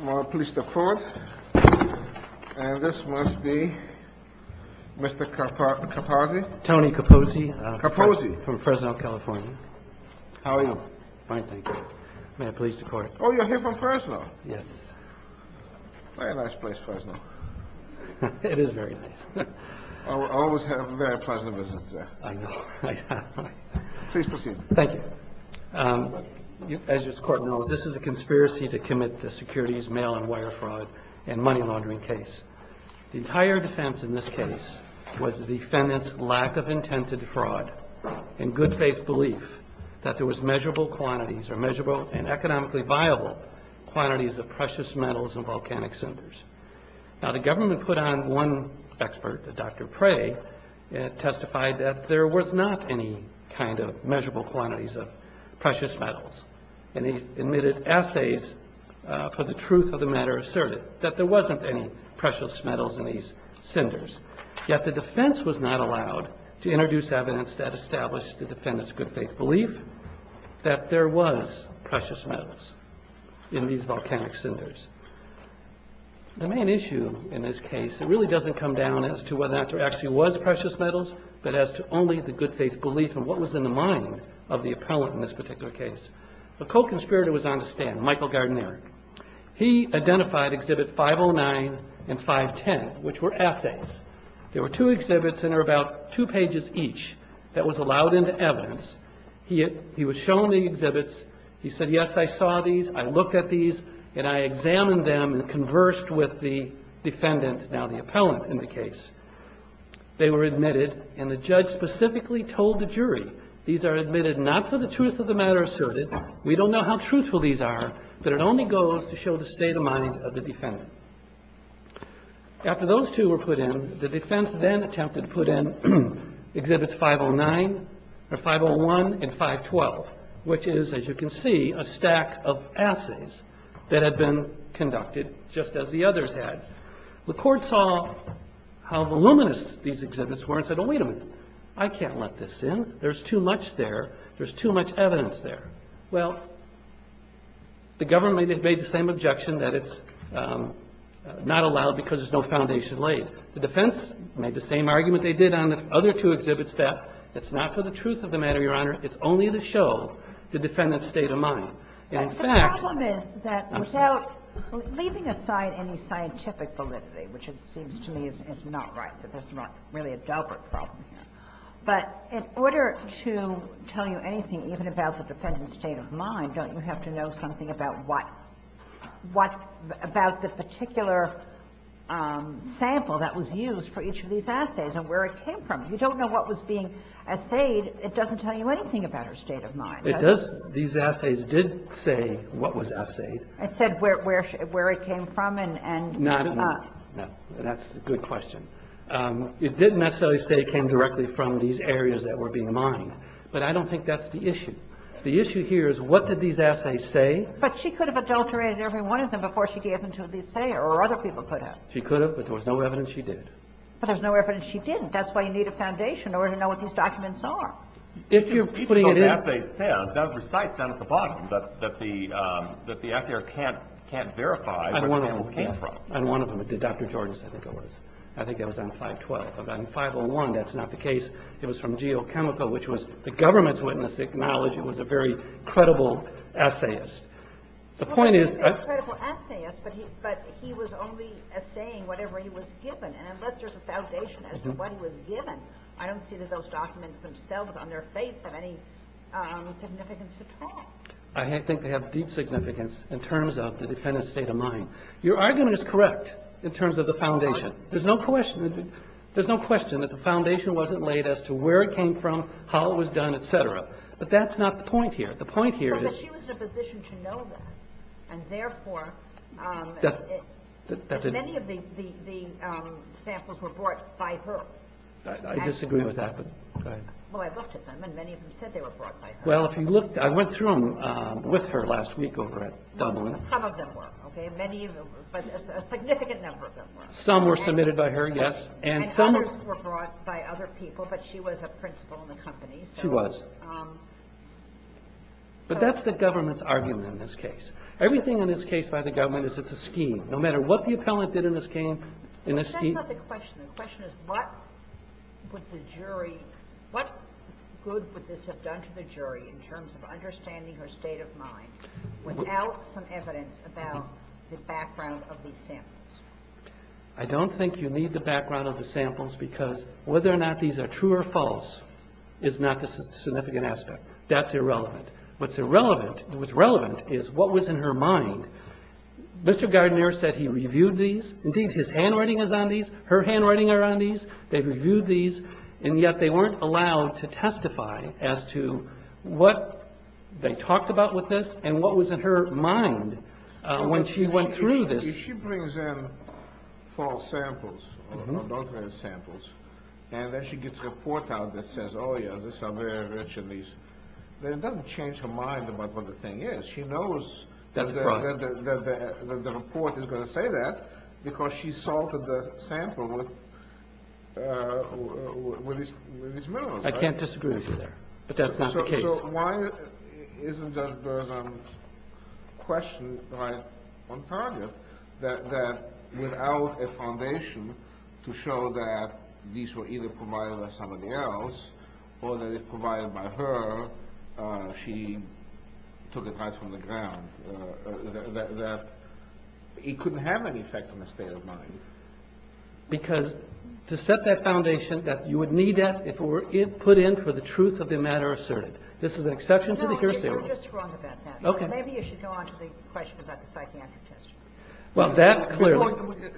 I'm pleased to report that this must be Mr. Kaposi. Tony Kaposi from Fresno, California. How are you? Fine, thank you. May I please the court? Oh, you're here from Fresno. Yes. Very nice place, Fresno. It is very nice. I always have very pleasant visits there. I know. Please proceed. Thank you. As this court knows, this is a conspiracy to commit the securities mail and wire fraud and money laundering case. The entire defense in this case was the defendant's lack of intent to defraud and good faith belief that there was measurable quantities or measurable and economically viable quantities of precious metals and volcanic cinders. Now the government put on one expert, Dr. Prey, and testified that there was not any kind of measurable quantities of precious metals. And he admitted assays for the truth of the matter asserted that there wasn't any precious metals in these cinders. Yet the defense was not allowed to introduce evidence that established the defendant's good faith belief that there was precious metals in these volcanic cinders. The main issue in this case really doesn't come down as to whether or not there actually was precious metals, but as to only the good faith belief and what was in the mind of the appellant in this particular case. A co-conspirator was on the stand, Michael Gardner. He identified exhibit 509 and 510, which were assays. There were two exhibits and there were about two pages each that was allowed into evidence. He was shown the exhibits. He said, yes, I saw these, I looked at these, and I examined them and conversed with the defendant, now the appellant, in the case. They were admitted and the judge specifically told the jury, these are admitted not for the truth of the matter asserted. We don't know how truthful these are, but it only goes to show the state of mind of the defendant. After those two were put in, the defense then attempted to put in exhibits 501 and 512, which is, as you can see, a stack of assays that had been conducted just as the others had. The court saw how voluminous these exhibits were and said, wait a minute, I can't let this in. There's too much there. There's too much evidence there. Well, the government made the same objection that it's not allowed because there's no foundation laid. The defense made the same argument they did on the other two exhibits, that it's not for the truth of the matter, Your Honor, it's only to show the defendant's state of mind. And the problem is that without leaving aside any scientific validity, which it seems to me is not right, that there's not really a deliberate problem here, but in order to tell you anything, even about the defendant's state of mind, don't you have to know something about what, about the particular sample that was used for each of these assays and where it came from? If you don't know what was being assayed, it doesn't tell you anything about her state of mind. These assays did say what was assayed. It said where it came from. No, that's a good question. It didn't necessarily say it came directly from these areas that were being mined, but I don't think that's the issue. The issue here is what did these assays say? But she could have adulterated every one of them before she gave them to the assayer, or other people could have. She could have, but there was no evidence she did. But there was no evidence she didn't. That's why you need a foundation in order to know what these documents are. Each of those assays says, that was recited down at the bottom, that the assayer can't verify where the samples came from. On one of them, it did. Dr. Jordan said it was. I think that was on 512. But on 501, that's not the case. It was from Geochemical, which was the government's witness acknowledged it was a very credible assayist. The point is... Well, he was a credible assayist, but he was only assaying whatever he was given. And unless there's a foundation as to what he was given, I don't see that those documents themselves on their face have any significance at all. I think they have deep significance in terms of the defendant's state of mind. Your argument is correct in terms of the foundation. There's no question that the foundation wasn't laid as to where it came from, how it was done, et cetera. But that's not the point here. The point here is... But she was in a position to know that. And therefore, many of the samples were brought by her. I disagree with that. Well, I looked at them, and many of them said they were brought by her. Well, if you looked, I went through them with her last week over at Dublin. Some of them were. A significant number of them were. Some were submitted by her, yes. And others were brought by other people, but she was a principal in the company. She was. But that's the government's argument in this case. Everything in this case by the government is that it's a scheme. No matter what the appellant did in this scheme, in this scheme... But that's not the question. The question is what would the jury... What good would this have done to the jury in terms of understanding her state of mind without some evidence about the background of these samples? I don't think you need the background of the samples because whether or not these are true or false is not the significant aspect. That's irrelevant. What's relevant is what was in her mind. Mr. Gardner said he reviewed these. Indeed, his handwriting is on these. Her handwriting are on these. They reviewed these. And yet they weren't allowed to testify as to what they talked about with this and what was in her mind when she went through this. If she brings in false samples and then she gets a report out that says, oh yeah, these are very rich in these, then it doesn't change her mind about what the thing is. She knows that the report is going to say that because she salted the sample with these minerals. I can't disagree with you there, but that's not the case. So why isn't there a question on target that without a foundation to show that these were either provided by somebody else or that it was provided by her, she took it right from the ground, that it couldn't have any effect on her state of mind? Because to set that foundation that you would need that if it were put in for the truth of the matter asserted. This is an exception to the hearsay. Maybe you should go on to the question about the psychiatric test. Well, that clearly.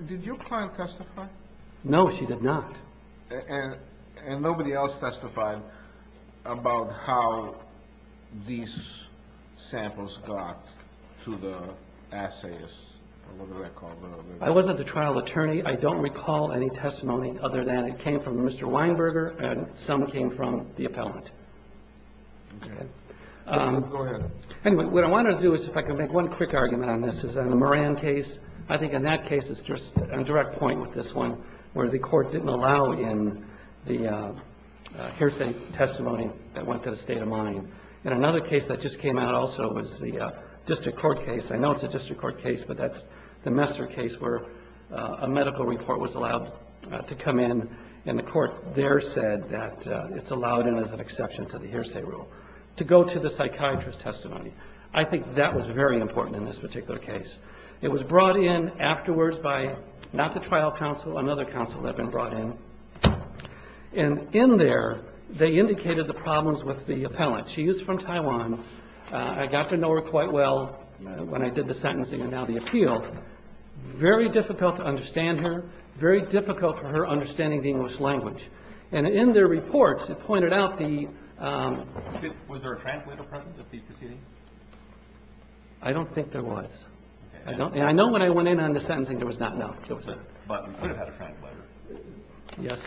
Did your client testify? No, she did not. And nobody else testified about how these samples got to the assayists? I wasn't the trial attorney. I don't recall any testimony other than it came from Mr. Weinberger and some came from the appellant. Okay. Go ahead. Anyway, what I want to do is if I can make one quick argument on this is on the Moran case. I think in that case it's just a direct point with this one where the court didn't allow in the hearsay testimony that went to the state of mind. And another case that just came out also was the district court case. I know it's a district court case, but that's the Messer case where a medical report was allowed to come in, and the court there said that it's allowed in as an exception to the hearsay rule to go to the psychiatrist's testimony. I think that was very important in this particular case. It was brought in afterwards by not the trial counsel, another counsel had been brought in. And in there they indicated the problems with the appellant. She is from Taiwan. I got to know her quite well when I did the sentencing and now the appeal. Very difficult to understand her. Very difficult for her understanding the English language. And in their reports it pointed out the... Was there a translator present at the proceeding? I don't think there was. I know when I went in on the sentencing there was not, no. But you could have had a translator. Yes.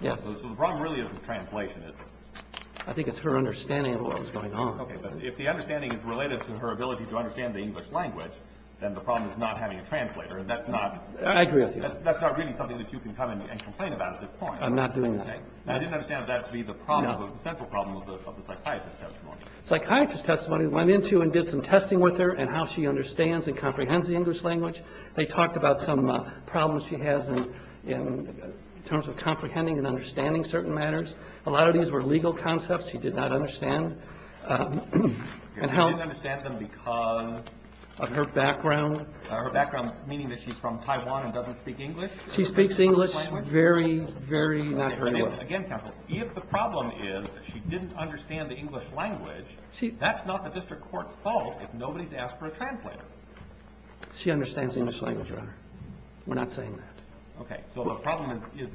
Yes. So the problem really isn't translation, is it? I think it's her understanding of what was going on. Okay. But if the understanding is related to her ability to understand the English language, then the problem is not having a translator. That's not... I agree with you. That's not really something that you can come in and complain about at this point. I'm not doing that. I didn't understand that to be the problem, the central problem of the psychiatrist's testimony. Psychiatrist's testimony went into and did some testing with her and how she understands and comprehends the English language. They talked about some problems she has in terms of comprehending and understanding certain matters. A lot of these were legal concepts she did not understand. She didn't understand them because... Of her background. Her background meaning that she's from Taiwan and doesn't speak English. She speaks English very, very not very well. Again, counsel, if the problem is she didn't understand the English language, that's not the district court's fault if nobody's asked for a translator. She understands the English language, Your Honor. We're not saying that. Okay. So the problem is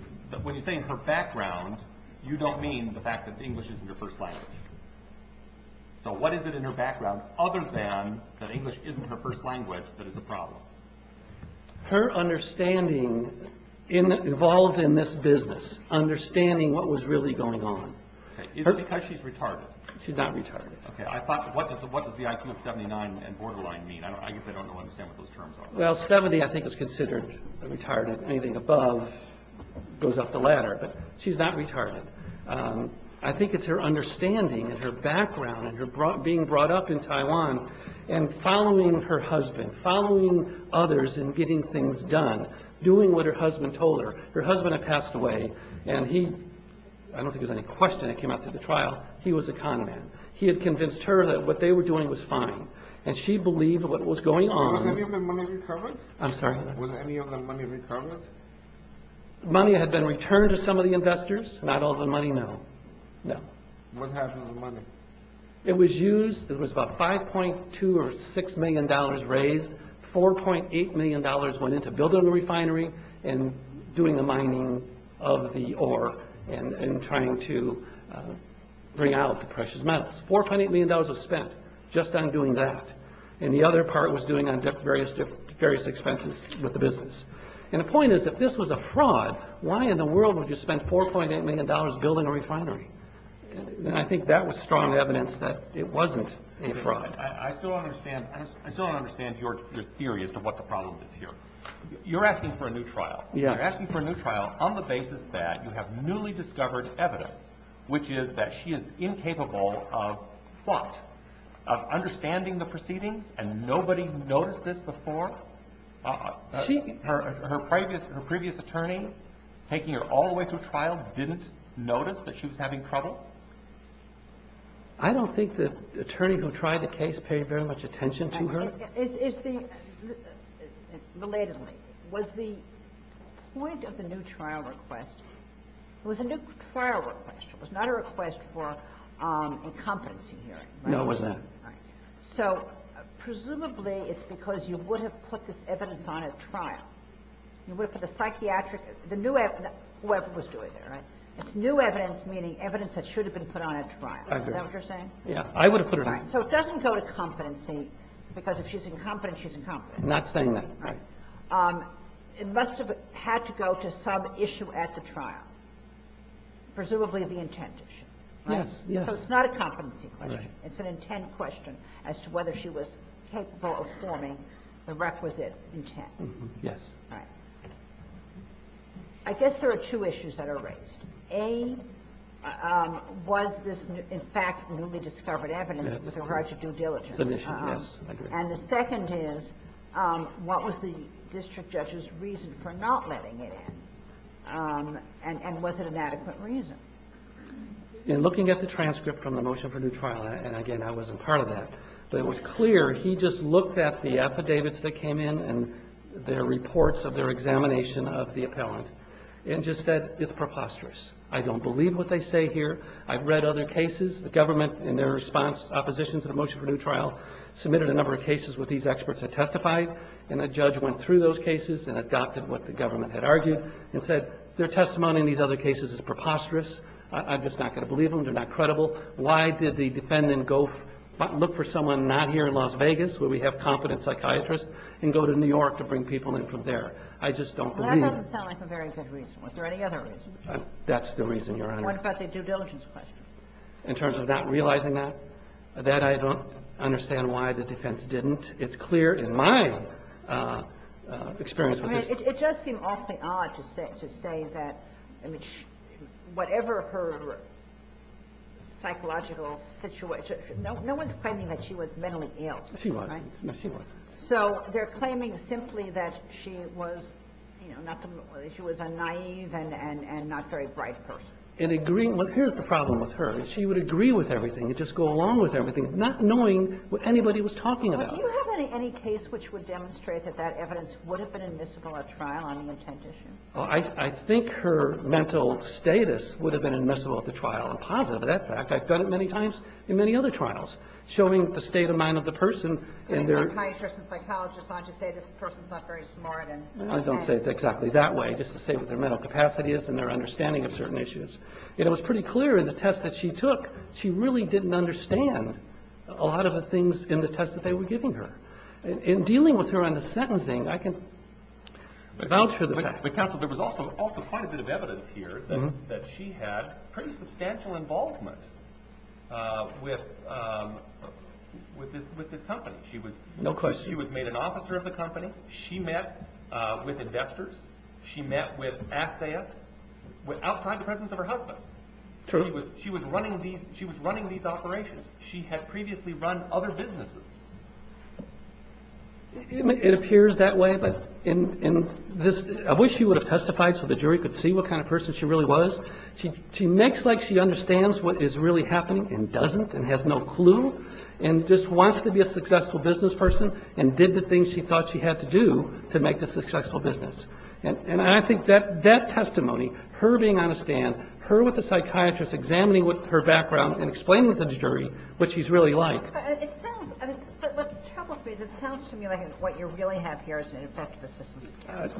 when you say her background, you don't mean the fact that English isn't her first language. So what is it in her background other than that English isn't her first language that is the problem? Her understanding involved in this business, understanding what was really going on. Is it because she's retarded? She's not retarded. Okay. What does the IQ of 79 and borderline mean? I guess I don't understand what those terms are. Well, 70, I think, is considered retarded. Anything above goes up the ladder. But she's not retarded. I think it's her understanding and her background and her being brought up in Taiwan and following her husband, following others in getting things done, doing what her husband told her. Her husband had passed away. I don't think there's any question that came out through the trial. He was a con man. He had convinced her that what they were doing was fine. And she believed what was going on. Was any of the money recovered? I'm sorry? Was any of the money recovered? Money had been returned to some of the investors. Not all the money, no. No. What happened to the money? It was used. It was about $5.2 or $6 million raised. $4.8 million went into building a refinery and doing the mining of the ore and trying to bring out the precious metals. $4.8 million was spent just on doing that. And the other part was doing various expenses with the business. And the point is, if this was a fraud, why in the world would you spend $4.8 million building a refinery? And I think that was strong evidence that it wasn't a fraud. I still don't understand your theory as to what the problem is here. You're asking for a new trial. Yes. You're asking for a new trial on the basis that you have newly discovered evidence, which is that she is incapable of what? Of understanding the proceedings and nobody noticed this before? Her previous attorney taking her all the way through trial didn't notice that she was having trouble? I don't think the attorney who tried the case paid very much attention to her. Relatedly, was the point of the new trial request, it was a new trial request. It was not a request for a competency hearing. No, it wasn't. Right. So presumably it's because you would have put this evidence on at trial. You would have put the psychiatric, the new evidence, whoever was doing it, right? It's new evidence, meaning evidence that should have been put on at trial. Is that what you're saying? Yeah, I would have put it on. So it doesn't go to competency because if she's incompetent, she's incompetent. I'm not saying that. It must have had to go to some issue at the trial, presumably the intent issue. Yes, yes. So it's not a competency question. It's an intent question as to whether she was capable of forming the requisite intent. Yes. All right. I guess there are two issues that are raised. A, was this, in fact, newly discovered evidence with regard to due diligence? Submission, yes. And the second is, what was the district judge's reason for not letting it in? And was it an adequate reason? In looking at the transcript from the motion for new trial, and again, I wasn't part of that, but it was clear he just looked at the affidavits that came in and their reports of their examination of the appellant and just said, it's preposterous. I don't believe what they say here. I've read other cases. The government, in their response, opposition to the motion for new trial, submitted a number of cases with these experts that testified, and a judge went through those cases and adopted what the government had argued and said, their testimony in these other cases is preposterous. I'm just not going to believe them. They're not credible. Why did the defendant go look for someone not here in Las Vegas, where we have competent psychiatrists, and go to New York to bring people in from there? I just don't believe it. That doesn't sound like a very good reason. Was there any other reason? That's the reason, Your Honor. What about the due diligence question? In terms of not realizing that? That, I don't understand why the defense didn't. It's clear in my experience with this. I mean, it does seem awfully odd to say that, I mean, whatever her psychological situation. No one's claiming that she was mentally ill, right? No, she wasn't. No, she wasn't. So they're claiming simply that she was, you know, she was a naive and not very bright person. And here's the problem with her. She would agree with everything and just go along with everything, not knowing what anybody was talking about. Do you have any case which would demonstrate that that evidence would have been admissible at trial on the intent issue? I think her mental status would have been admissible at the trial and positive of that fact. I've done it many times in many other trials, showing the state of mind of the person. Any psychiatrist and psychologist ought to say this person's not very smart? I don't say it exactly that way, just to say what their mental capacity is and their understanding of certain issues. And it was pretty clear in the test that she took, she really didn't understand a lot of the things in the test that they were giving her. In dealing with her on the sentencing, I can vouch for the fact. But, counsel, there was also quite a bit of evidence here that she had pretty much met with this company. No question. She was made an officer of the company. She met with investors. She met with assayists outside the presence of her husband. True. She was running these operations. She had previously run other businesses. It appears that way. I wish you would have testified so the jury could see what kind of person she really was. She makes like she understands what is really happening and doesn't and has no clue and just wants to be a successful business person and did the things she thought she had to do to make a successful business. And I think that testimony, her being on a stand, her with a psychiatrist examining her background and explaining to the jury what she's really like. It sounds to me like what you really have here is an effective assistance.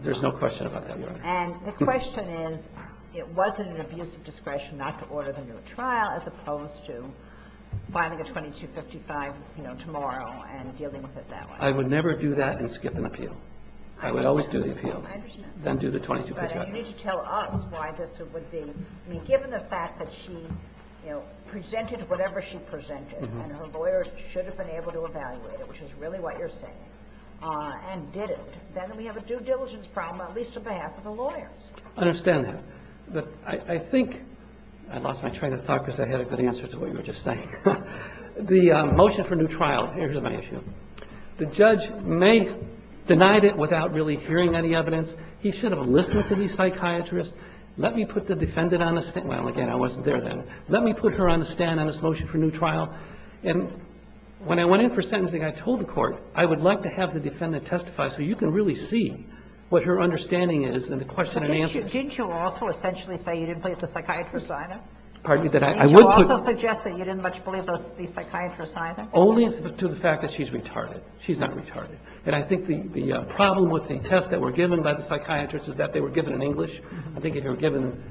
There's no question about that, Your Honor. And the question is, it wasn't an abuse of discretion not to order the new trial as opposed to filing a 2255, you know, tomorrow and dealing with it that way. I would never do that and skip an appeal. I would always do the appeal. Then do the 2255. But you need to tell us why this would be. I mean, given the fact that she, you know, presented whatever she presented and her lawyer should have been able to evaluate it, which is really what you're saying, and didn't, then we have a due diligence problem, at least on behalf of the lawyers. I understand that. But I think, I lost my train of thought because I had a good answer to what you were just saying. The motion for new trial, here's my issue. The judge may have denied it without really hearing any evidence. He should have listened to the psychiatrist. Let me put the defendant on the stand. Well, again, I wasn't there then. Let me put her on the stand on this motion for new trial. And when I went in for sentencing, I told the court, I would like to have the question and answer. Didn't you also essentially say you didn't believe the psychiatrist either? Pardon me? I would put. Didn't you also suggest that you didn't much believe the psychiatrist either? Only to the fact that she's retarded. She's not retarded. And I think the problem with the test that were given by the psychiatrist is that they were given in English. I think if they were given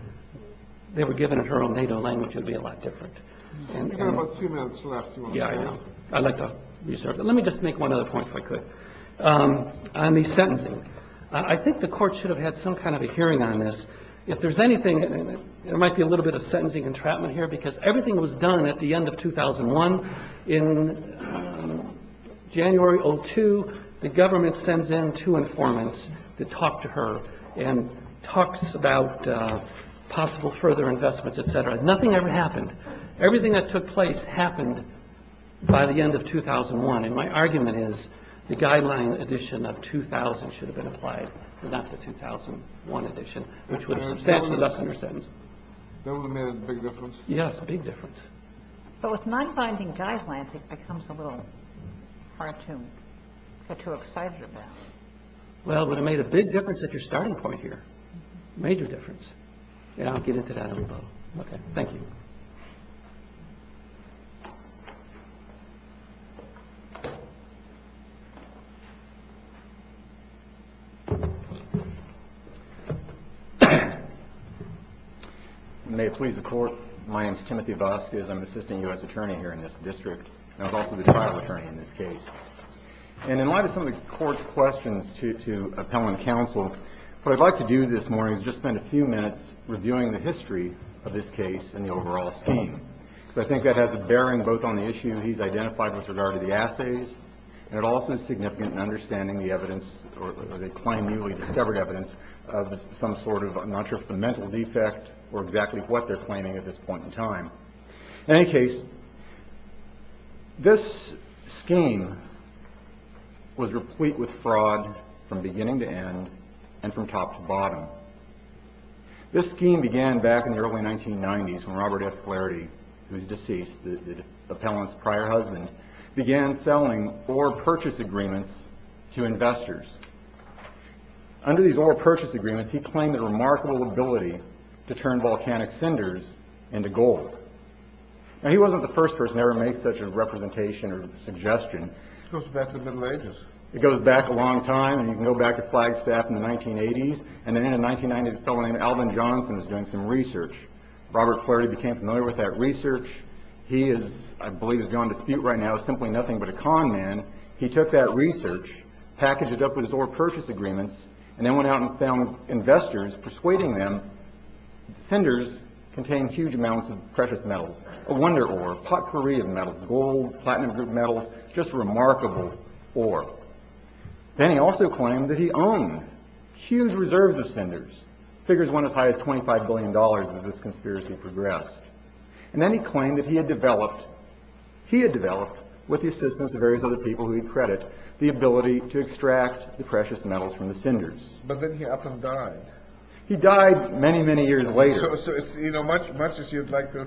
in her own native language, it would be a lot different. You have about two minutes left. Yeah, I know. I'd like to reserve that. Let me just make one other point, if I could. On the sentencing, I think the court should have had some kind of a hearing on this. If there's anything, there might be a little bit of sentencing entrapment here because everything was done at the end of 2001. In January of 2002, the government sends in two informants to talk to her and talks about possible further investments, et cetera. Nothing ever happened. Everything that took place happened by the end of 2001. And my argument is the guideline edition of 2000 should have been applied, not the 2001 edition, which would have substantially lessened her sentence. That would have made a big difference. Yes, a big difference. But with non-binding guidelines, it becomes a little hard to get too excited about. Well, it would have made a big difference at your starting point here. A major difference. And I'll get into that a little. OK. Thank you. May it please the court. My name is Timothy Vasquez. I'm an assistant U.S. attorney here in this district. I was also the trial attorney in this case. And in light of some of the court's questions to appellant counsel, what I'd like to do this morning is just spend a few minutes reviewing the history of this case and the overall scheme. So I think that has a bearing both on the issue he's identified with regard to the assays. And it also is significant in understanding the evidence or they claim newly discovered evidence of some sort of I'm not sure if the mental defect or exactly what they're claiming at this point in time. In any case, this scheme was replete with fraud from beginning to end and from top to bottom. This scheme began back in the early 1990s when Robert F. Flaherty, who's deceased, the appellant's prior husband, began selling or purchase agreements to investors. Under these oral purchase agreements, he claimed a remarkable ability to turn volcanic cinders into gold. Now, he wasn't the first person ever made such a representation or suggestion. It goes back to the Middle Ages. It goes back a long time. And you can go back to Flagstaff in the 1980s. And then in the 1990s, a fellow named Alvin Johnson was doing some research. Robert Flaherty became familiar with that research. He is, I believe, is beyond dispute right now, simply nothing but a con man. He took that research, packaged it up with his oral purchase agreements, and then went out and found investors persuading them. Cinders contain huge amounts of precious metals, a wonder ore, potpourri of metals, gold, platinum group metals, just remarkable ore. Then he also claimed that he owned huge reserves of cinders. Figures went as high as $25 billion as this conspiracy progressed. And then he claimed that he had developed, he had developed, with the assistance of various other people who he'd credit, the ability to extract the precious metals from the cinders. But then he up and died. He died many, many years later. So it's, you know, much, much as you'd like to.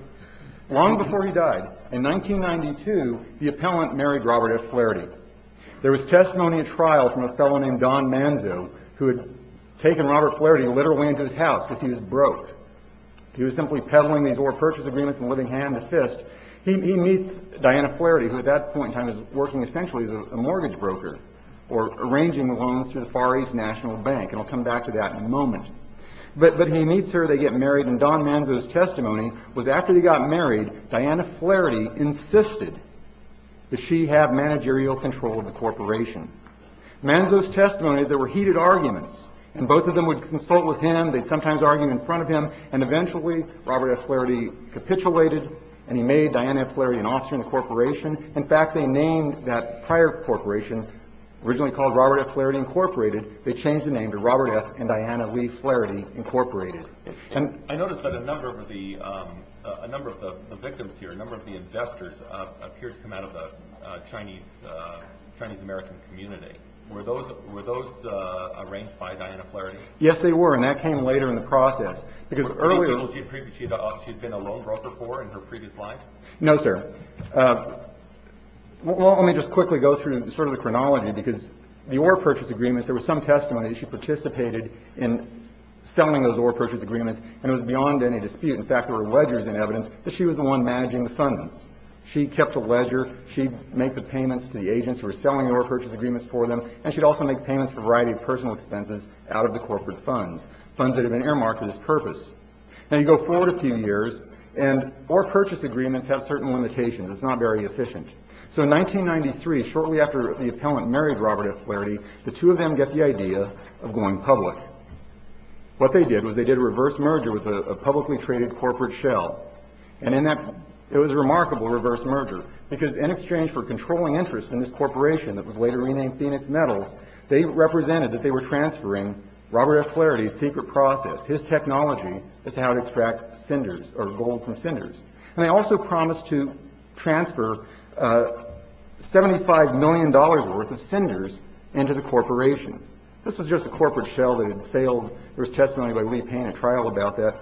Long before he died, in 1992, the appellant married Robert Flaherty. There was testimony at trial from a fellow named Don Manzo who had taken Robert Flaherty literally into his house because he was broke. He was simply peddling these oral purchase agreements and living hand to fist. He meets Diana Flaherty, who at that point in time is working essentially as a mortgage broker or arranging loans through the Far East National Bank. And I'll come back to that in a moment. But he meets her, they get married, and Don Manzo's testimony was after they got married, Diana Flaherty insisted that she have managerial control of the corporation. Manzo's testimony, there were heated arguments, and both of them would consult with him. They'd sometimes argue in front of him. And eventually, Robert F. Flaherty capitulated, and he made Diana Flaherty an Austrian corporation. In fact, they named that prior corporation originally called Robert F. Flaherty Incorporated. They changed the name to Robert F. and Diana Lee Flaherty Incorporated. And I noticed that a number of the victims here, a number of the investors, appear to come out of the Chinese American community. Were those arranged by Diana Flaherty? Yes, they were, and that came later in the process. Were these people she'd been a loan broker for in her previous life? No, sir. Well, let me just quickly go through sort of the chronology, because the ore purchase agreements, there was some testimony that she participated in selling those ore purchase agreements, and it was beyond any dispute. In fact, there were ledgers in evidence that she was the one managing the funds. She kept a ledger. She'd make the payments to the agents who were selling the ore purchase agreements for them, and she'd also make payments for a variety of personal expenses out of the corporate funds, funds that had been earmarked for this purpose. Now, you go forward a few years, and ore purchase agreements have certain limitations. It's not very efficient. So in 1993, shortly after the appellant married Robert F. Flaherty, the two of them get the idea of going public. What they did was they did a reverse merger with a publicly traded corporate shell, and it was a remarkable reverse merger, because in exchange for controlling interest in this corporation that was later renamed Phoenix Metals, they represented that they were transferring Robert F. Flaherty's secret process, his technology as to how to extract cinders or gold from cinders. And they also promised to transfer $75 million worth of cinders into the corporation. This was just a corporate shell that had failed. There was testimony by Lee Payne at trial about that.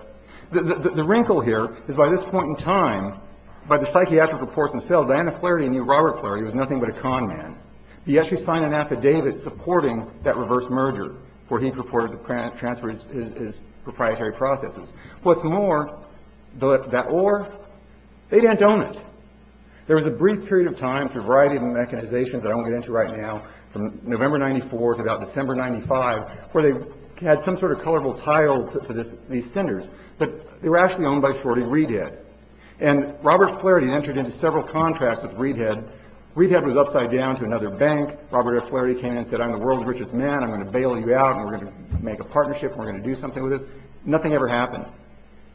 The wrinkle here is by this point in time, by the psychiatric reports themselves, Diana Flaherty knew Robert Flaherty was nothing but a con man. He actually signed an affidavit supporting that reverse merger where he purported to transfer his proprietary processes. What's more, that ore, they didn't own it. There was a brief period of time through a variety of mechanizations that I won't get into right now, from November 1994 to about December 1995, where they had some sort of colorful tile to these cinders, but they were actually owned by Shorty Reedhead. And Robert Flaherty entered into several contracts with Reedhead. Reedhead was upside down to another bank. Robert F. Flaherty came in and said, I'm the world's richest man. I'm going to bail you out, and we're going to make a partnership, and we're going to do something with this. Nothing ever happened.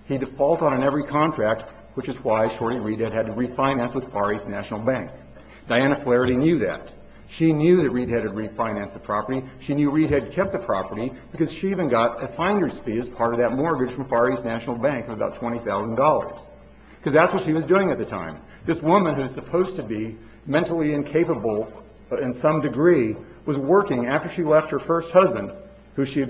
He defaulted on every contract, which is why Shorty Reedhead had to refinance with Far East National Bank. Diana Flaherty knew that. She knew that Reedhead had refinanced the property. She knew Reedhead kept the property because she even got a finder's fee as part of that mortgage from Far East National Bank of about $20,000. Because that's what she was doing at the time. This woman who is supposed to be mentally incapable in some degree was working after she left her first husband, who she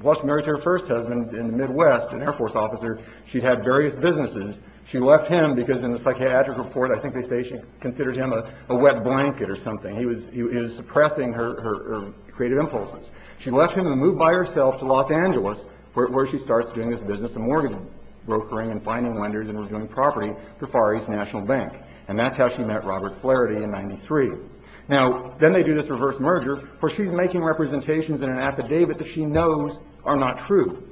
was married to her first husband in the Midwest, an Air Force officer. She had various businesses. She left him because in the psychiatric report, I think they say she considered him a wet blanket or something. He was suppressing her creative impulses. She left him and moved by herself to Los Angeles, where she starts doing this business of mortgaging, brokering and finding lenders and reviewing property for Far East National Bank. And that's how she met Robert Flaherty in 93. Now, then they do this reverse merger, where she's making representations in an affidavit that she knows are not true.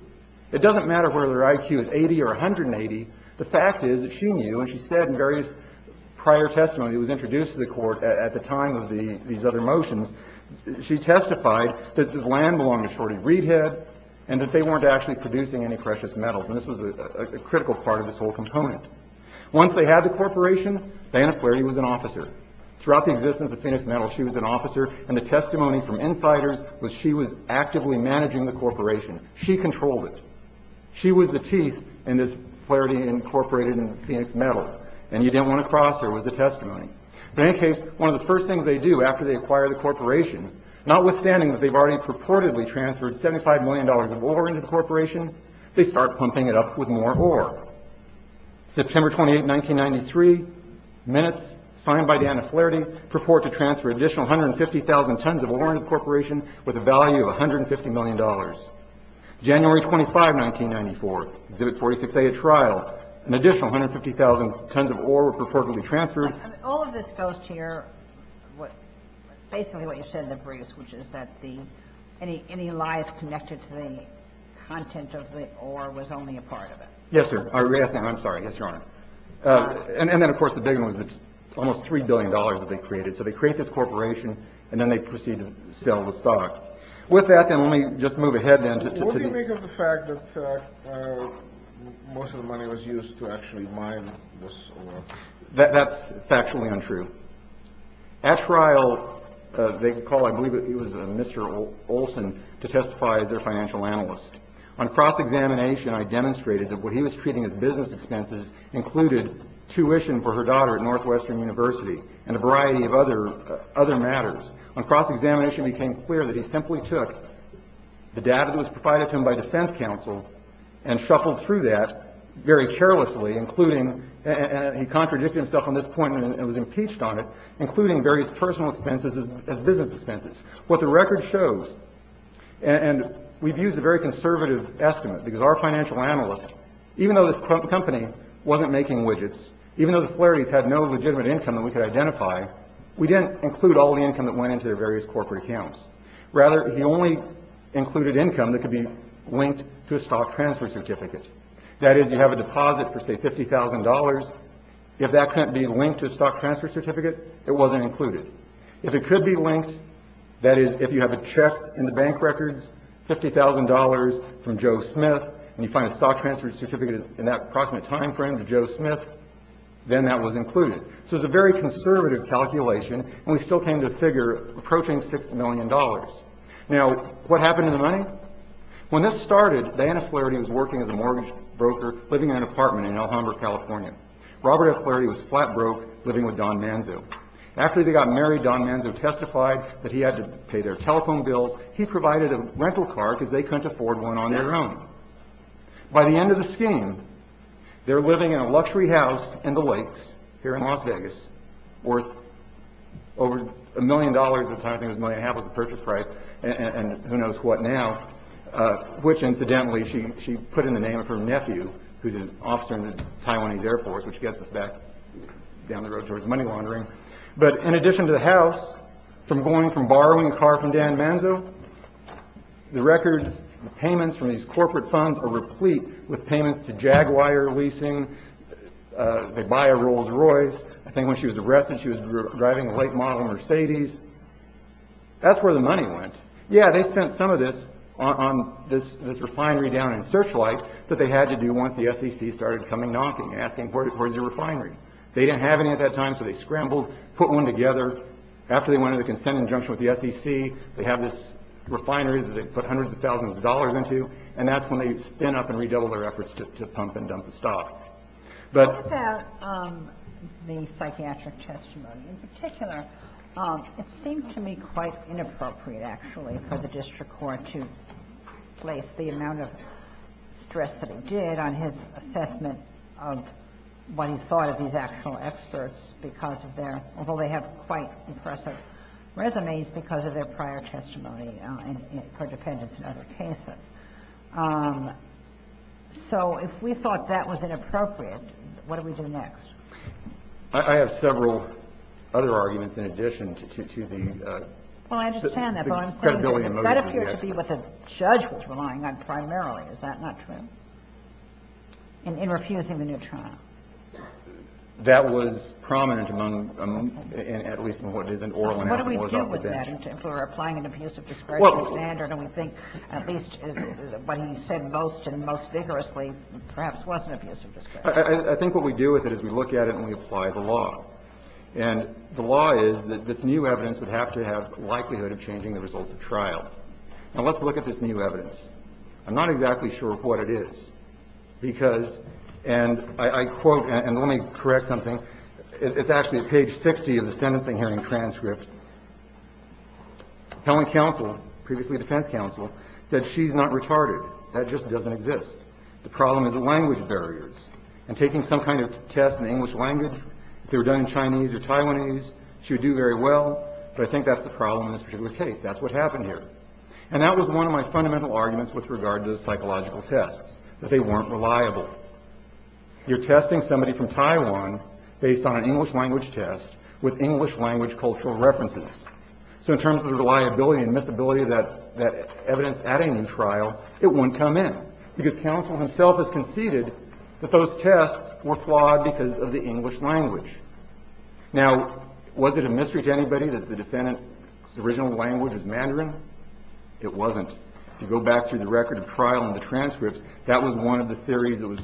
It doesn't matter whether their IQ is 80 or 180. The fact is that she knew, and she said in various prior testimony that was introduced to the court at the time of these other motions, she testified that the land belonged to Shorty Reedhead and that they weren't actually producing any precious metals. And this was a critical part of this whole component. Once they had the corporation, Vanna Flaherty was an officer. Throughout the existence of Phoenix Metal, she was an officer. And the testimony from insiders was she was actively managing the corporation. She controlled it. She was the chief in this Flaherty Incorporated in Phoenix Metal. And you didn't want to cross her was the testimony. But in any case, one of the first things they do after they acquire the corporation, notwithstanding that they've already purportedly transferred $75 million of ore into the corporation, they start pumping it up with more ore. September 28, 1993, Minutes, signed by Vanna Flaherty, purport to transfer an additional 150,000 tons of ore into the corporation with a value of $150 million. January 25, 1994, Exhibit 46A, a trial. An additional 150,000 tons of ore were purportedly transferred. All of this goes to your, basically what you said in the briefs, which is that any lies connected to the content of the ore was only a part of it. Yes, sir. I'm sorry. Yes, Your Honor. And then, of course, the big one was almost $3 billion that they created. So they create this corporation, and then they proceed to sell the stock. With that, then, let me just move ahead, then. What do you think of the fact that most of the money was used to actually mine this ore? That's factually untrue. At trial, they call, I believe it was Mr. Olson, to testify as their financial analyst. On cross-examination, I demonstrated that what he was treating as business expenses included tuition for her daughter at Northwestern University and a variety of other matters. On cross-examination, it became clear that he simply took the data that was provided to him by defense counsel and shuffled through that very carelessly, including, and he contradicted himself on this point and was impeached on it, including various personal expenses as business expenses. What the record shows, and we've used a very conservative estimate because our financial analyst, even though this company wasn't making widgets, even though the Flaherty's had no legitimate income that we could identify, we didn't include all the income that went into their various corporate accounts. Rather, he only included income that could be linked to a stock transfer certificate. That is, you have a deposit for, say, $50,000. If that couldn't be linked to a stock transfer certificate, it wasn't included. If it could be linked, that is, if you have a check in the bank records, $50,000 from Joe Smith, and you find a stock transfer certificate in that approximate time frame to Joe Smith, then that was included. So it's a very conservative calculation, and we still came to the figure approaching $6 million. Now, what happened to the money? When this started, Diana Flaherty was working as a mortgage broker, living in an apartment in El Humber, California. Robert F. Flaherty was flat broke, living with Don Manzo. After they got married, Don Manzo testified that he had to pay their telephone bills. He provided a rental car because they couldn't afford one on their own. By the end of the scheme, they're living in a luxury house in the lakes here in Las Vegas, worth over a million dollars at the time. I think it was a million and a half was the purchase price, and who knows what now. Which, incidentally, she put in the name of her nephew, who's an officer in the Taiwanese Air Force, which gets us back down the road towards money laundering. But in addition to the house, from going from borrowing a car from Don Manzo, the records, the payments from these corporate funds are replete with payments to Jaguar leasing. They buy a Rolls Royce. I think when she was arrested, she was driving a late model Mercedes. That's where the money went. Yeah, they spent some of this on this refinery down in Searchlight that they had to do once the SEC started coming knocking, asking for the refinery. They didn't have any at that time, so they scrambled, put one together. After they wanted a consent injunction with the SEC, they have this refinery that they put hundreds of thousands of dollars into, and that's when they'd spin up and redouble their efforts to pump and dump the stock. What about the psychiatric testimony? In particular, it seemed to me quite inappropriate, actually, for the district court to place the amount of stress that it did on his assessment of what he thought of these actual experts because of their, although they have quite impressive resumes, because of their prior testimony for defendants in other cases. So if we thought that was inappropriate, what do we do next? I have several other arguments in addition to the credibility. Well, I understand that, but what I'm saying is that that appeared to be what the judge was relying on primarily. Is that not true, in refusing the new trial? That was prominent among, at least in what it is in oral analysis. What do we do with that if we're applying an abusive discretion standard and we think at least what he said most and most vigorously perhaps was an abusive discretion? I think what we do with it is we look at it and we apply the law. And the law is that this new evidence would have to have likelihood of changing the results of trial. Now, let's look at this new evidence. I'm not exactly sure what it is because, and I quote, and let me correct something. It's actually at page 60 of the sentencing hearing transcript. Appellant counsel, previously defense counsel, said she's not retarded. That just doesn't exist. The problem is the language barriers. And taking some kind of test in the English language, if they were done in Chinese or Taiwanese, she would do very well. But I think that's the problem in this particular case. That's what happened here. And that was one of my fundamental arguments with regard to psychological tests, that they weren't reliable. You're testing somebody from Taiwan based on an English language test with English language cultural references. So in terms of the reliability and misability of that evidence at a new trial, it wouldn't come in because counsel himself has conceded that those tests were flawed because of the English language. Now, was it a mystery to anybody that the defendant's original language was Mandarin? It wasn't. If you go back through the record of trial and the transcripts, that was one of the theories that was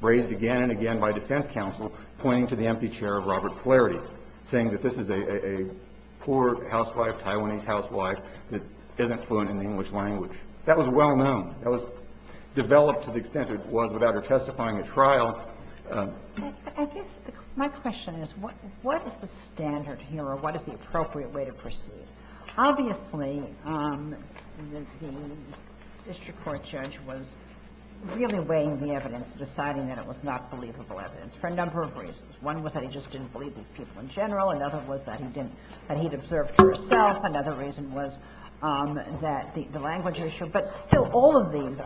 raised again and again by defense counsel pointing to the empty chair of Robert Flaherty, saying that this is a poor housewife, Taiwanese housewife, that isn't fluent in the English language. That was well-known. That was developed to the extent that it was without her testifying at trial. I guess my question is, what is the standard here or what is the appropriate way to proceed? Obviously, the district court judge was really weighing the evidence, deciding that it was not believable evidence, for a number of reasons. One was that he just didn't believe these people in general. Another was that he didn't, that he'd observed herself. Another reason was that the language issue. But still, all of these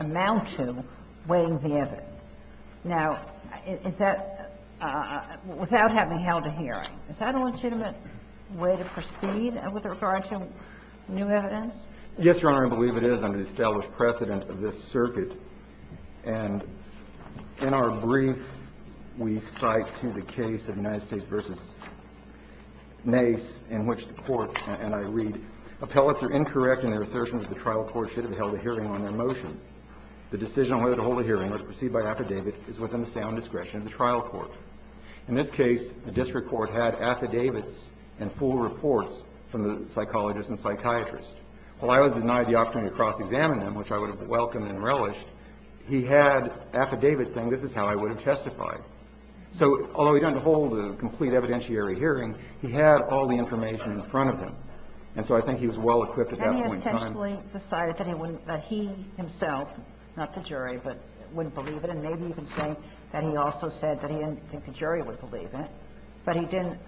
amount to weighing the evidence. Now, is that, without having held a hearing, is that a legitimate way to proceed with regard to new evidence? Yes, Your Honor. I believe it is under the established precedent of this circuit. And in our brief, we cite to the case of United States v. Mace, in which the court, and I read, appellates are incorrect in their assertion that the trial court should have held a hearing on their motion. The decision on whether to hold a hearing, as perceived by affidavit, is within the sound discretion of the trial court. In this case, the district court had affidavits and full reports from the psychologist and psychiatrist. While I was denied the opportunity to cross-examine them, which I would have welcomed and relished, he had affidavits saying this is how I would have testified. So, although he didn't hold a complete evidentiary hearing, he had all the information in front of him. And so I think he was well-equipped at that point in time. And he essentially decided that he wouldn't, that he himself, not the jury, but wouldn't believe it, and maybe even saying that he also said that he didn't think the jury would believe it. But he didn't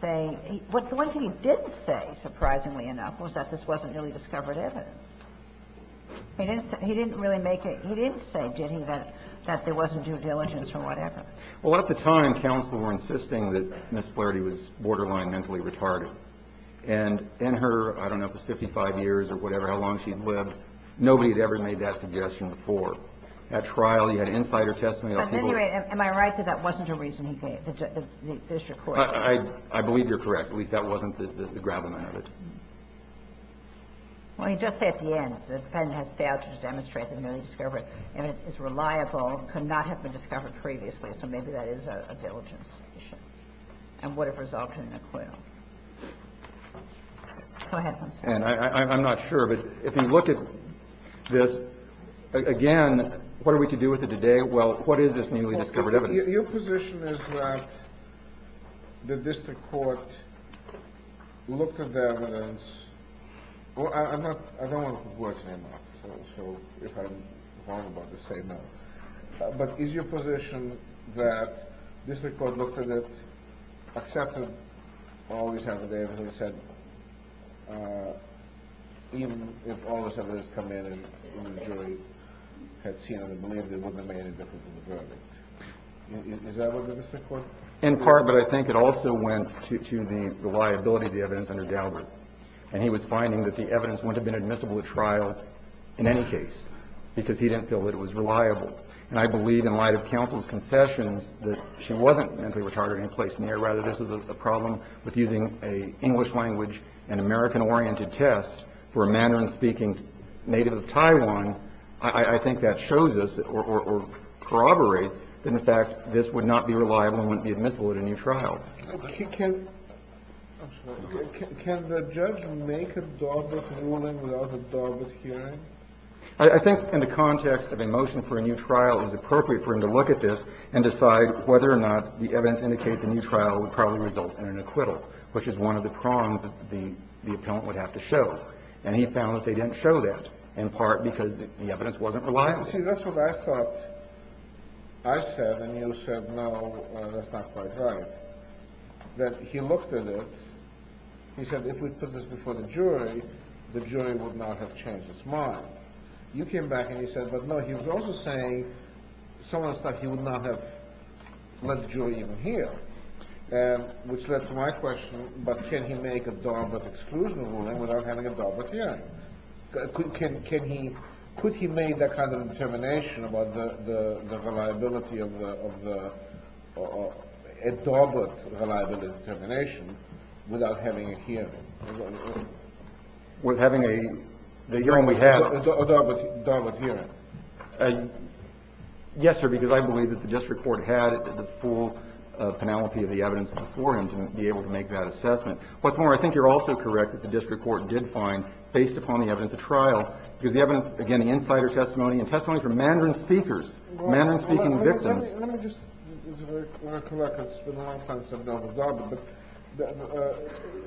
say, what the one thing he didn't say, surprisingly enough, was that this wasn't really discovered evidence. He didn't say, he didn't really make it, he didn't say, did he, that there wasn't due diligence or whatever. Well, at the time, counsel were insisting that Ms. Flaherty was borderline mentally retarded. And in her, I don't know, it was 55 years or whatever, how long she had lived, nobody had ever made that suggestion before. And so I think that's what he was trying to say. I don't think there's any evidence to support that trial. He had insider testimony of people. But anyway, am I right that that wasn't a reason he gave, the district court? I believe you're correct. At least that wasn't the gravelman of it. Well, he does say at the end, the defendant has failed to demonstrate the newly discovered evidence is reliable, could not have been discovered previously. So maybe that is a diligence issue. And would have resulted in acquittal. And I'm not sure of it. If you look at this again, what are we to do with it today? Well, what is this newly discovered evidence? Your position is that the district court looked at the evidence. Well, I'm not, I don't want to put words in your mouth. So if I'm wrong about this, say no. But is your position that district court looked at it, accepted all this evidence and said, even if all this evidence had come in and the jury had seen it and believed it wouldn't have made any difference in the verdict? Is that what the district court? In part, but I think it also went to the reliability of the evidence under Daubert. And he was finding that the evidence wouldn't have been admissible at trial in any case because he didn't feel that it was reliable. And I believe in light of counsel's concessions that she wasn't mentally retarded in any place near. Rather, this is a problem with using an English language and American-oriented test for a Mandarin-speaking native of Taiwan. I think that shows us or corroborates the fact that this would not be reliable and wouldn't be admissible at a new trial. Can the judge make a Daubert ruling without a Daubert hearing? I think in the context of a motion for a new trial, it was appropriate for him to look at this and decide whether or not the evidence indicates a new trial would probably result in an acquittal, which is one of the prongs that the appellant would have to show. And he found that they didn't show that, in part, because the evidence wasn't reliable. See, that's what I thought. I said, and you said, no, that's not quite right, that he looked at it. He said, if we put this before the jury, the jury would not have changed its mind. You came back and you said, but no, he was also saying some of the stuff, he would not have let the jury even hear, which led to my question, but can he make a Daubert exclusion ruling without having a Daubert hearing? Could he make that kind of determination about the reliability of the Daubert reliability determination without having a hearing? With having a hearing we had. A Daubert hearing. Yes, sir, because I believe that the district court had the full penalty of the evidence before him to be able to make that assessment. What's more, I think you're also correct that the district court did find, based upon the evidence of trial, because the evidence, again, the insider testimony and testimony from Mandarin speakers, Mandarin-speaking victims. Let me just recollect. It's been a long time since I've dealt with Daubert, but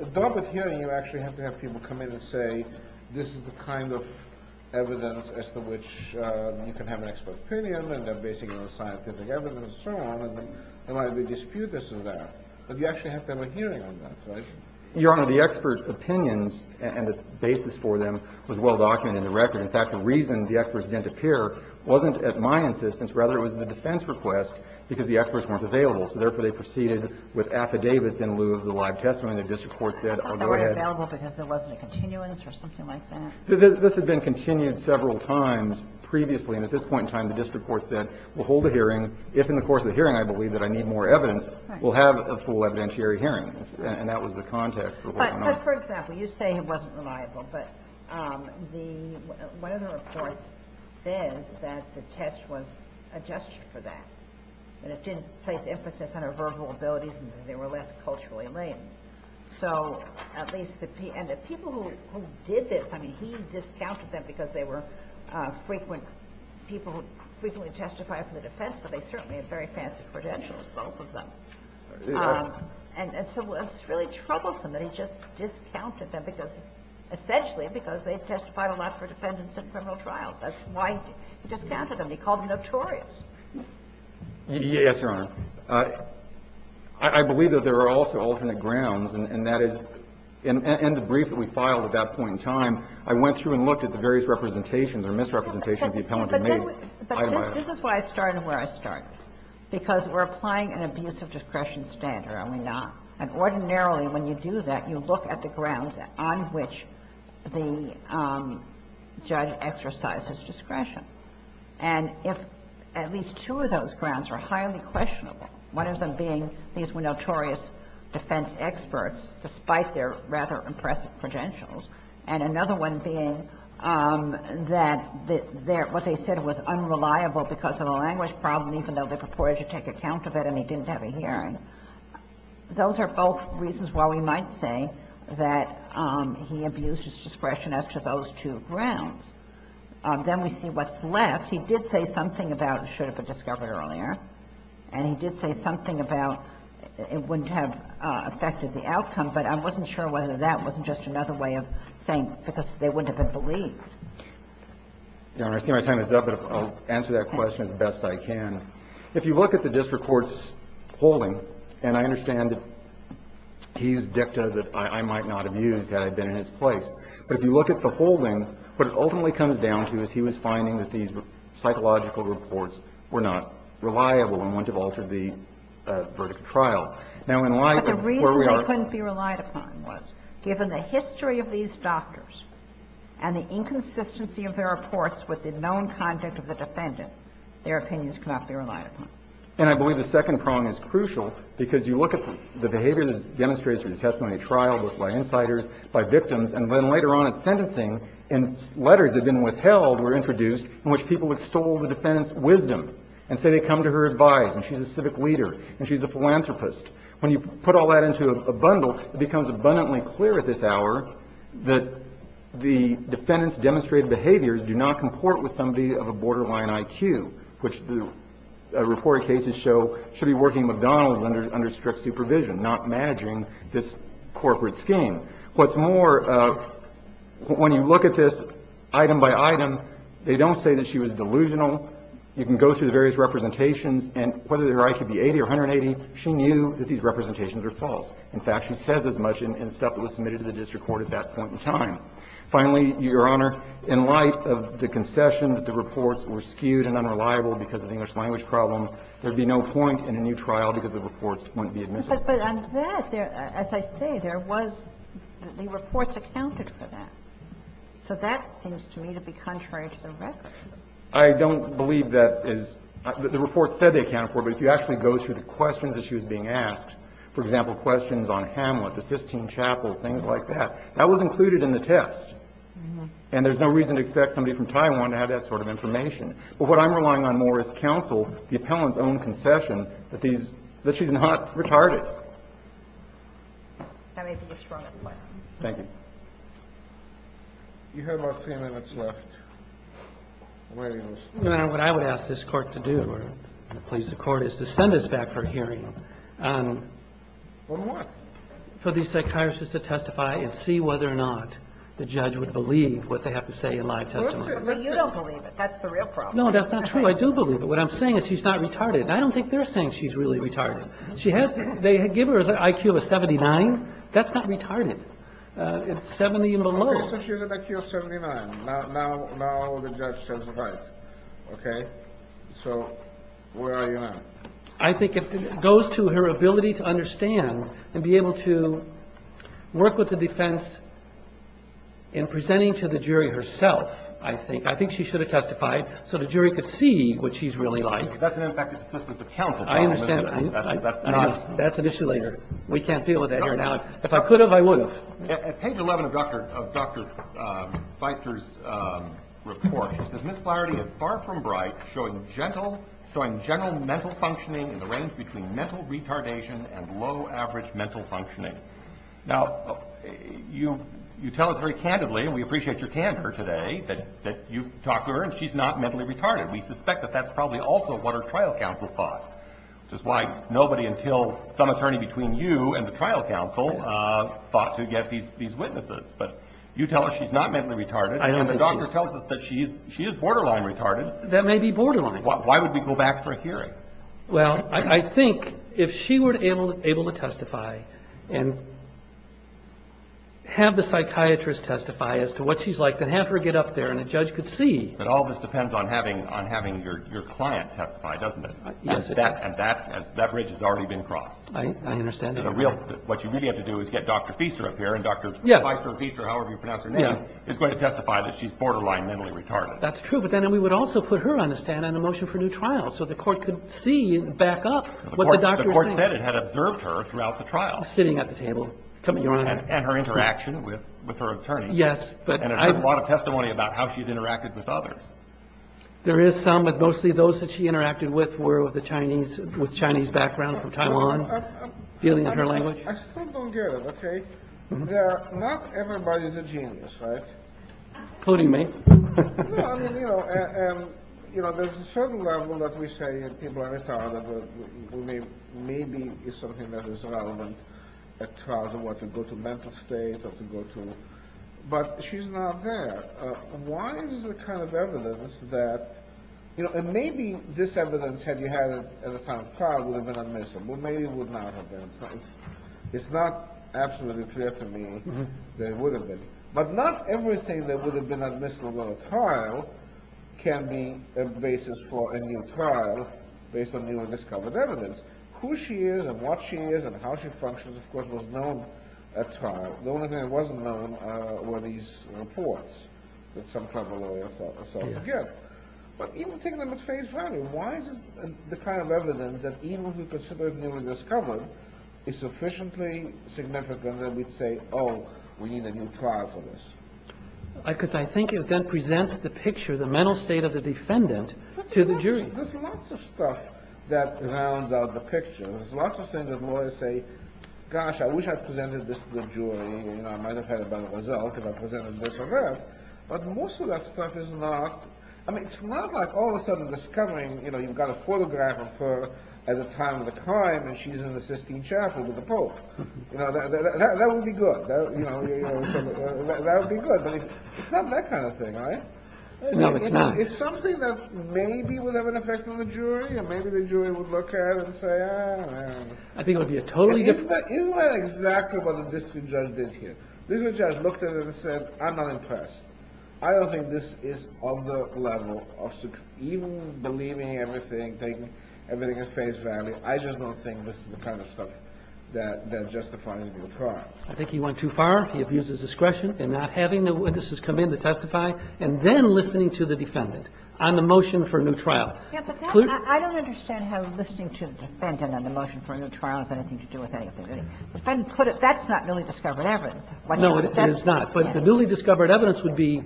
a Daubert hearing, you actually have to have people come in and say, this is the kind of evidence as to which you can have an expert opinion and they're basing it on scientific evidence and so on, and why we dispute this or that. But you actually have to have a hearing on that, right? Your Honor, the expert opinions and the basis for them was well-documented in the record. In fact, the reason the experts didn't appear wasn't at my insistence. Rather, it was the defense request, because the experts weren't available. So therefore, they proceeded with affidavits in lieu of the live testimony. The district court said, oh, go ahead. They weren't available because there wasn't a continuance or something like that? This had been continued several times previously, and at this point in time, the district court said, we'll hold a hearing. If in the course of the hearing I believe that I need more evidence, we'll have a full evidentiary hearing. And that was the context for what went on. But for example, you say it wasn't reliable. But one of the reports says that the test was a gesture for that. And it didn't place emphasis on her verbal abilities, and they were less culturally latent. So at least the people who did this, I mean, he discounted them because they were people who frequently testified for the defense, but they certainly had very fancy credentials, both of them. And so it's really troublesome that he just discounted them because essentially because they testified a lot for defendants in criminal trials. That's why he discounted them. He called them notorious. Yes, Your Honor. I believe that there are also alternate grounds, and that is in the brief that we filed at that point in time, I went through and looked at the various representations or misrepresentations the appellant had made. But this is why I started where I started, because we're applying an abuse of discretion standard, are we not? And ordinarily when you do that, you look at the grounds on which the judge exercises discretion. And if at least two of those grounds are highly questionable, one of them being these were notorious defense experts, despite their rather impressive credentials, and another one being that what they said was unreliable because of a language problem, even though they purported to take account of it and he didn't have a hearing, those are both reasons why we might say that he abused his discretion as to those two grounds. Then we see what's left. He did say something about it should have been discovered earlier, and he did say something about it wouldn't have affected the outcome, but I wasn't sure whether that wasn't just another way of saying because they wouldn't have been believed. Your Honor, I see my time is up, but I'll answer that question as best I can. If you look at the district court's holding, and I understand that he used dicta that I might not have used had I been in his place, but if you look at the holding, what it ultimately comes down to is he was finding that these psychological reports were not reliable and wouldn't have altered the verdict of trial. Now, in light of where we are at the moment. But the reason they couldn't be relied upon was given the history of these doctors and the inconsistency of their reports with the known conduct of the defendant, their opinions could not be relied upon. And I believe the second prong is crucial, because you look at the behavior that is demonstrated through the testimony of trial, both by insiders, by victims, and then later on in sentencing, letters that have been withheld were introduced in which people extol the defendant's wisdom and say they come to her advice and she's a civic leader and she's a philanthropist. When you put all that into a bundle, it becomes abundantly clear at this hour that the defendant's demonstrated behaviors do not comport with somebody of a borderline IQ, which the reported cases show should be working at McDonald's under strict supervision, not managing this corporate scheme. What's more, when you look at this item by item, they don't say that she was delusional. You can go through the various representations, and whether her IQ be 80 or 180, she knew that these representations are false. In fact, she says as much in stuff that was submitted to the district court at that point in time. Finally, Your Honor, in light of the concession that the reports were skewed and unreliable because of the English language problem, there would be no point in a new trial because the reports wouldn't be admissible. But on that, as I say, there was the reports accounted for that. So that seems to me to be contrary to the record. I don't believe that is the report said they accounted for, but if you actually go through the questions that she was being asked, for example, questions on Hamlet, the Sistine Chapel, things like that, that was included in the test. And there's no reason to expect somebody from Taiwan to have that sort of information. But what I'm relying on more is counsel, the appellant's own concession, that these – that she's not retarded. Thank you. You have about three minutes left. Well, Your Honor, what I would ask this court to do, or please the court, is to send us back for a hearing. On what? For these psychiatrists to testify and see whether or not the judge would believe what they have to say in live testimony. Well, you don't believe it. That's the real problem. No, that's not true. I do believe it. What I'm saying is she's not retarded. And I don't think they're saying she's really retarded. She has – they give her an IQ of a 79. That's not retarded. It's 70 and below. Okay. So she has an IQ of 79. Now the judge says it's right. Okay? So where are you now? I think it goes to her ability to understand and be able to work with the defense in presenting to the jury herself, I think. I think she should have testified so the jury could see what she's really like. That's an effective assistance of counsel. I understand. That's an issue later. We can't deal with that here now. If I could have, I would have. At page 11 of Dr. Feister's report, it says, Ms. Flaherty is far from bright, showing general mental functioning in the range between mental retardation and low average mental functioning. Now, you tell us very candidly, and we appreciate your candor today, that you've talked to her and she's not mentally retarded. We suspect that that's probably also what her trial counsel thought. Which is why nobody until some attorney between you and the trial counsel thought to get these witnesses. But you tell us she's not mentally retarded, and the doctor tells us that she is borderline retarded. That may be borderline. Why would we go back for a hearing? Well, I think if she were able to testify and have the psychiatrist testify as to what she's like, then have her get up there and the judge could see. But all this depends on having your client testify, doesn't it? Yes. And that bridge has already been crossed. I understand that. What you really have to do is get Dr. Feister up here, and Dr. Feister, however you pronounce her name, is going to testify that she's borderline mentally retarded. That's true. But then we would also put her on the stand on the motion for new trials so the court could see and back up what the doctor said. The court said it had observed her throughout the trial. Sitting at the table. And her interaction with her attorney. Yes. And a lot of testimony about how she's interacted with others. There is some, but mostly those that she interacted with were with the Chinese, with Chinese background from Taiwan. Feeling of her language. I still don't get it. OK. Yeah. Not everybody is a genius, right? Including me. No, I mean, you know, there's a certain level that we say that people are retarded. Maybe it's something that is relevant at trials or what to go to mental state or to go to. But she's not there. Why is the kind of evidence that, you know, and maybe this evidence, had you had it at a time of trial, would have been admissible. Maybe it would not have been. It's not absolutely clear to me that it would have been. But not everything that would have been admissible at a trial can be a basis for a new trial based on newly discovered evidence. Who she is and what she is and how she functions, of course, was known at trial. The only thing that wasn't known were these reports that some kind of lawyer or something gave. But even taking them at face value, why is the kind of evidence that even if we consider it newly discovered is sufficiently significant that we'd say, oh, we need a new trial for this? Because I think it then presents the picture, the mental state of the defendant to the jury. There's lots of stuff that rounds out the picture. There's lots of things that lawyers say, gosh, I wish I presented this to the jury. You know, I might have had a better result if I presented this or that. But most of that stuff is not. I mean, it's not like all of a sudden discovering, you know, you've got a photograph of her at a time of the crime and she's in the Sistine Chapel with the Pope. You know, that would be good. You know, that would be good. But it's not that kind of thing, right? No, it's not. I think that maybe would have an effect on the jury, and maybe the jury would look at it and say, oh, well. Isn't that exactly what the district judge did here? The district judge looked at it and said, I'm not impressed. I don't think this is on the level of even believing everything, taking everything at face value. I just don't think this is the kind of stuff that justifies a new crime. I think he went too far. He abuses discretion in not having the witnesses come in to testify, and then listening to the defendant. On the motion for a new trial. I don't understand how listening to the defendant on the motion for a new trial has anything to do with anything. The defendant put it, that's not newly discovered evidence. No, it is not. But the newly discovered evidence would be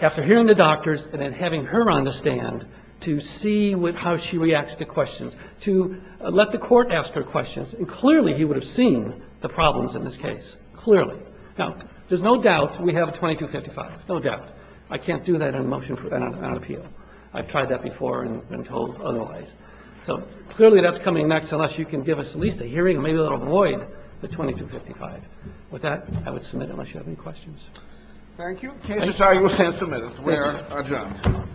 after hearing the doctors and then having her on the stand to see how she reacts to questions, to let the Court ask her questions. And clearly he would have seen the problems in this case. Clearly. Now, there's no doubt we have 2255. No doubt. I can't do that on a motion for an appeal. I've tried that before and been told otherwise. So clearly that's coming next unless you can give us at least a hearing, maybe a little void, the 2255. With that, I would submit unless you have any questions. Thank you. The case is now U.S. 10 submitted. We are adjourned.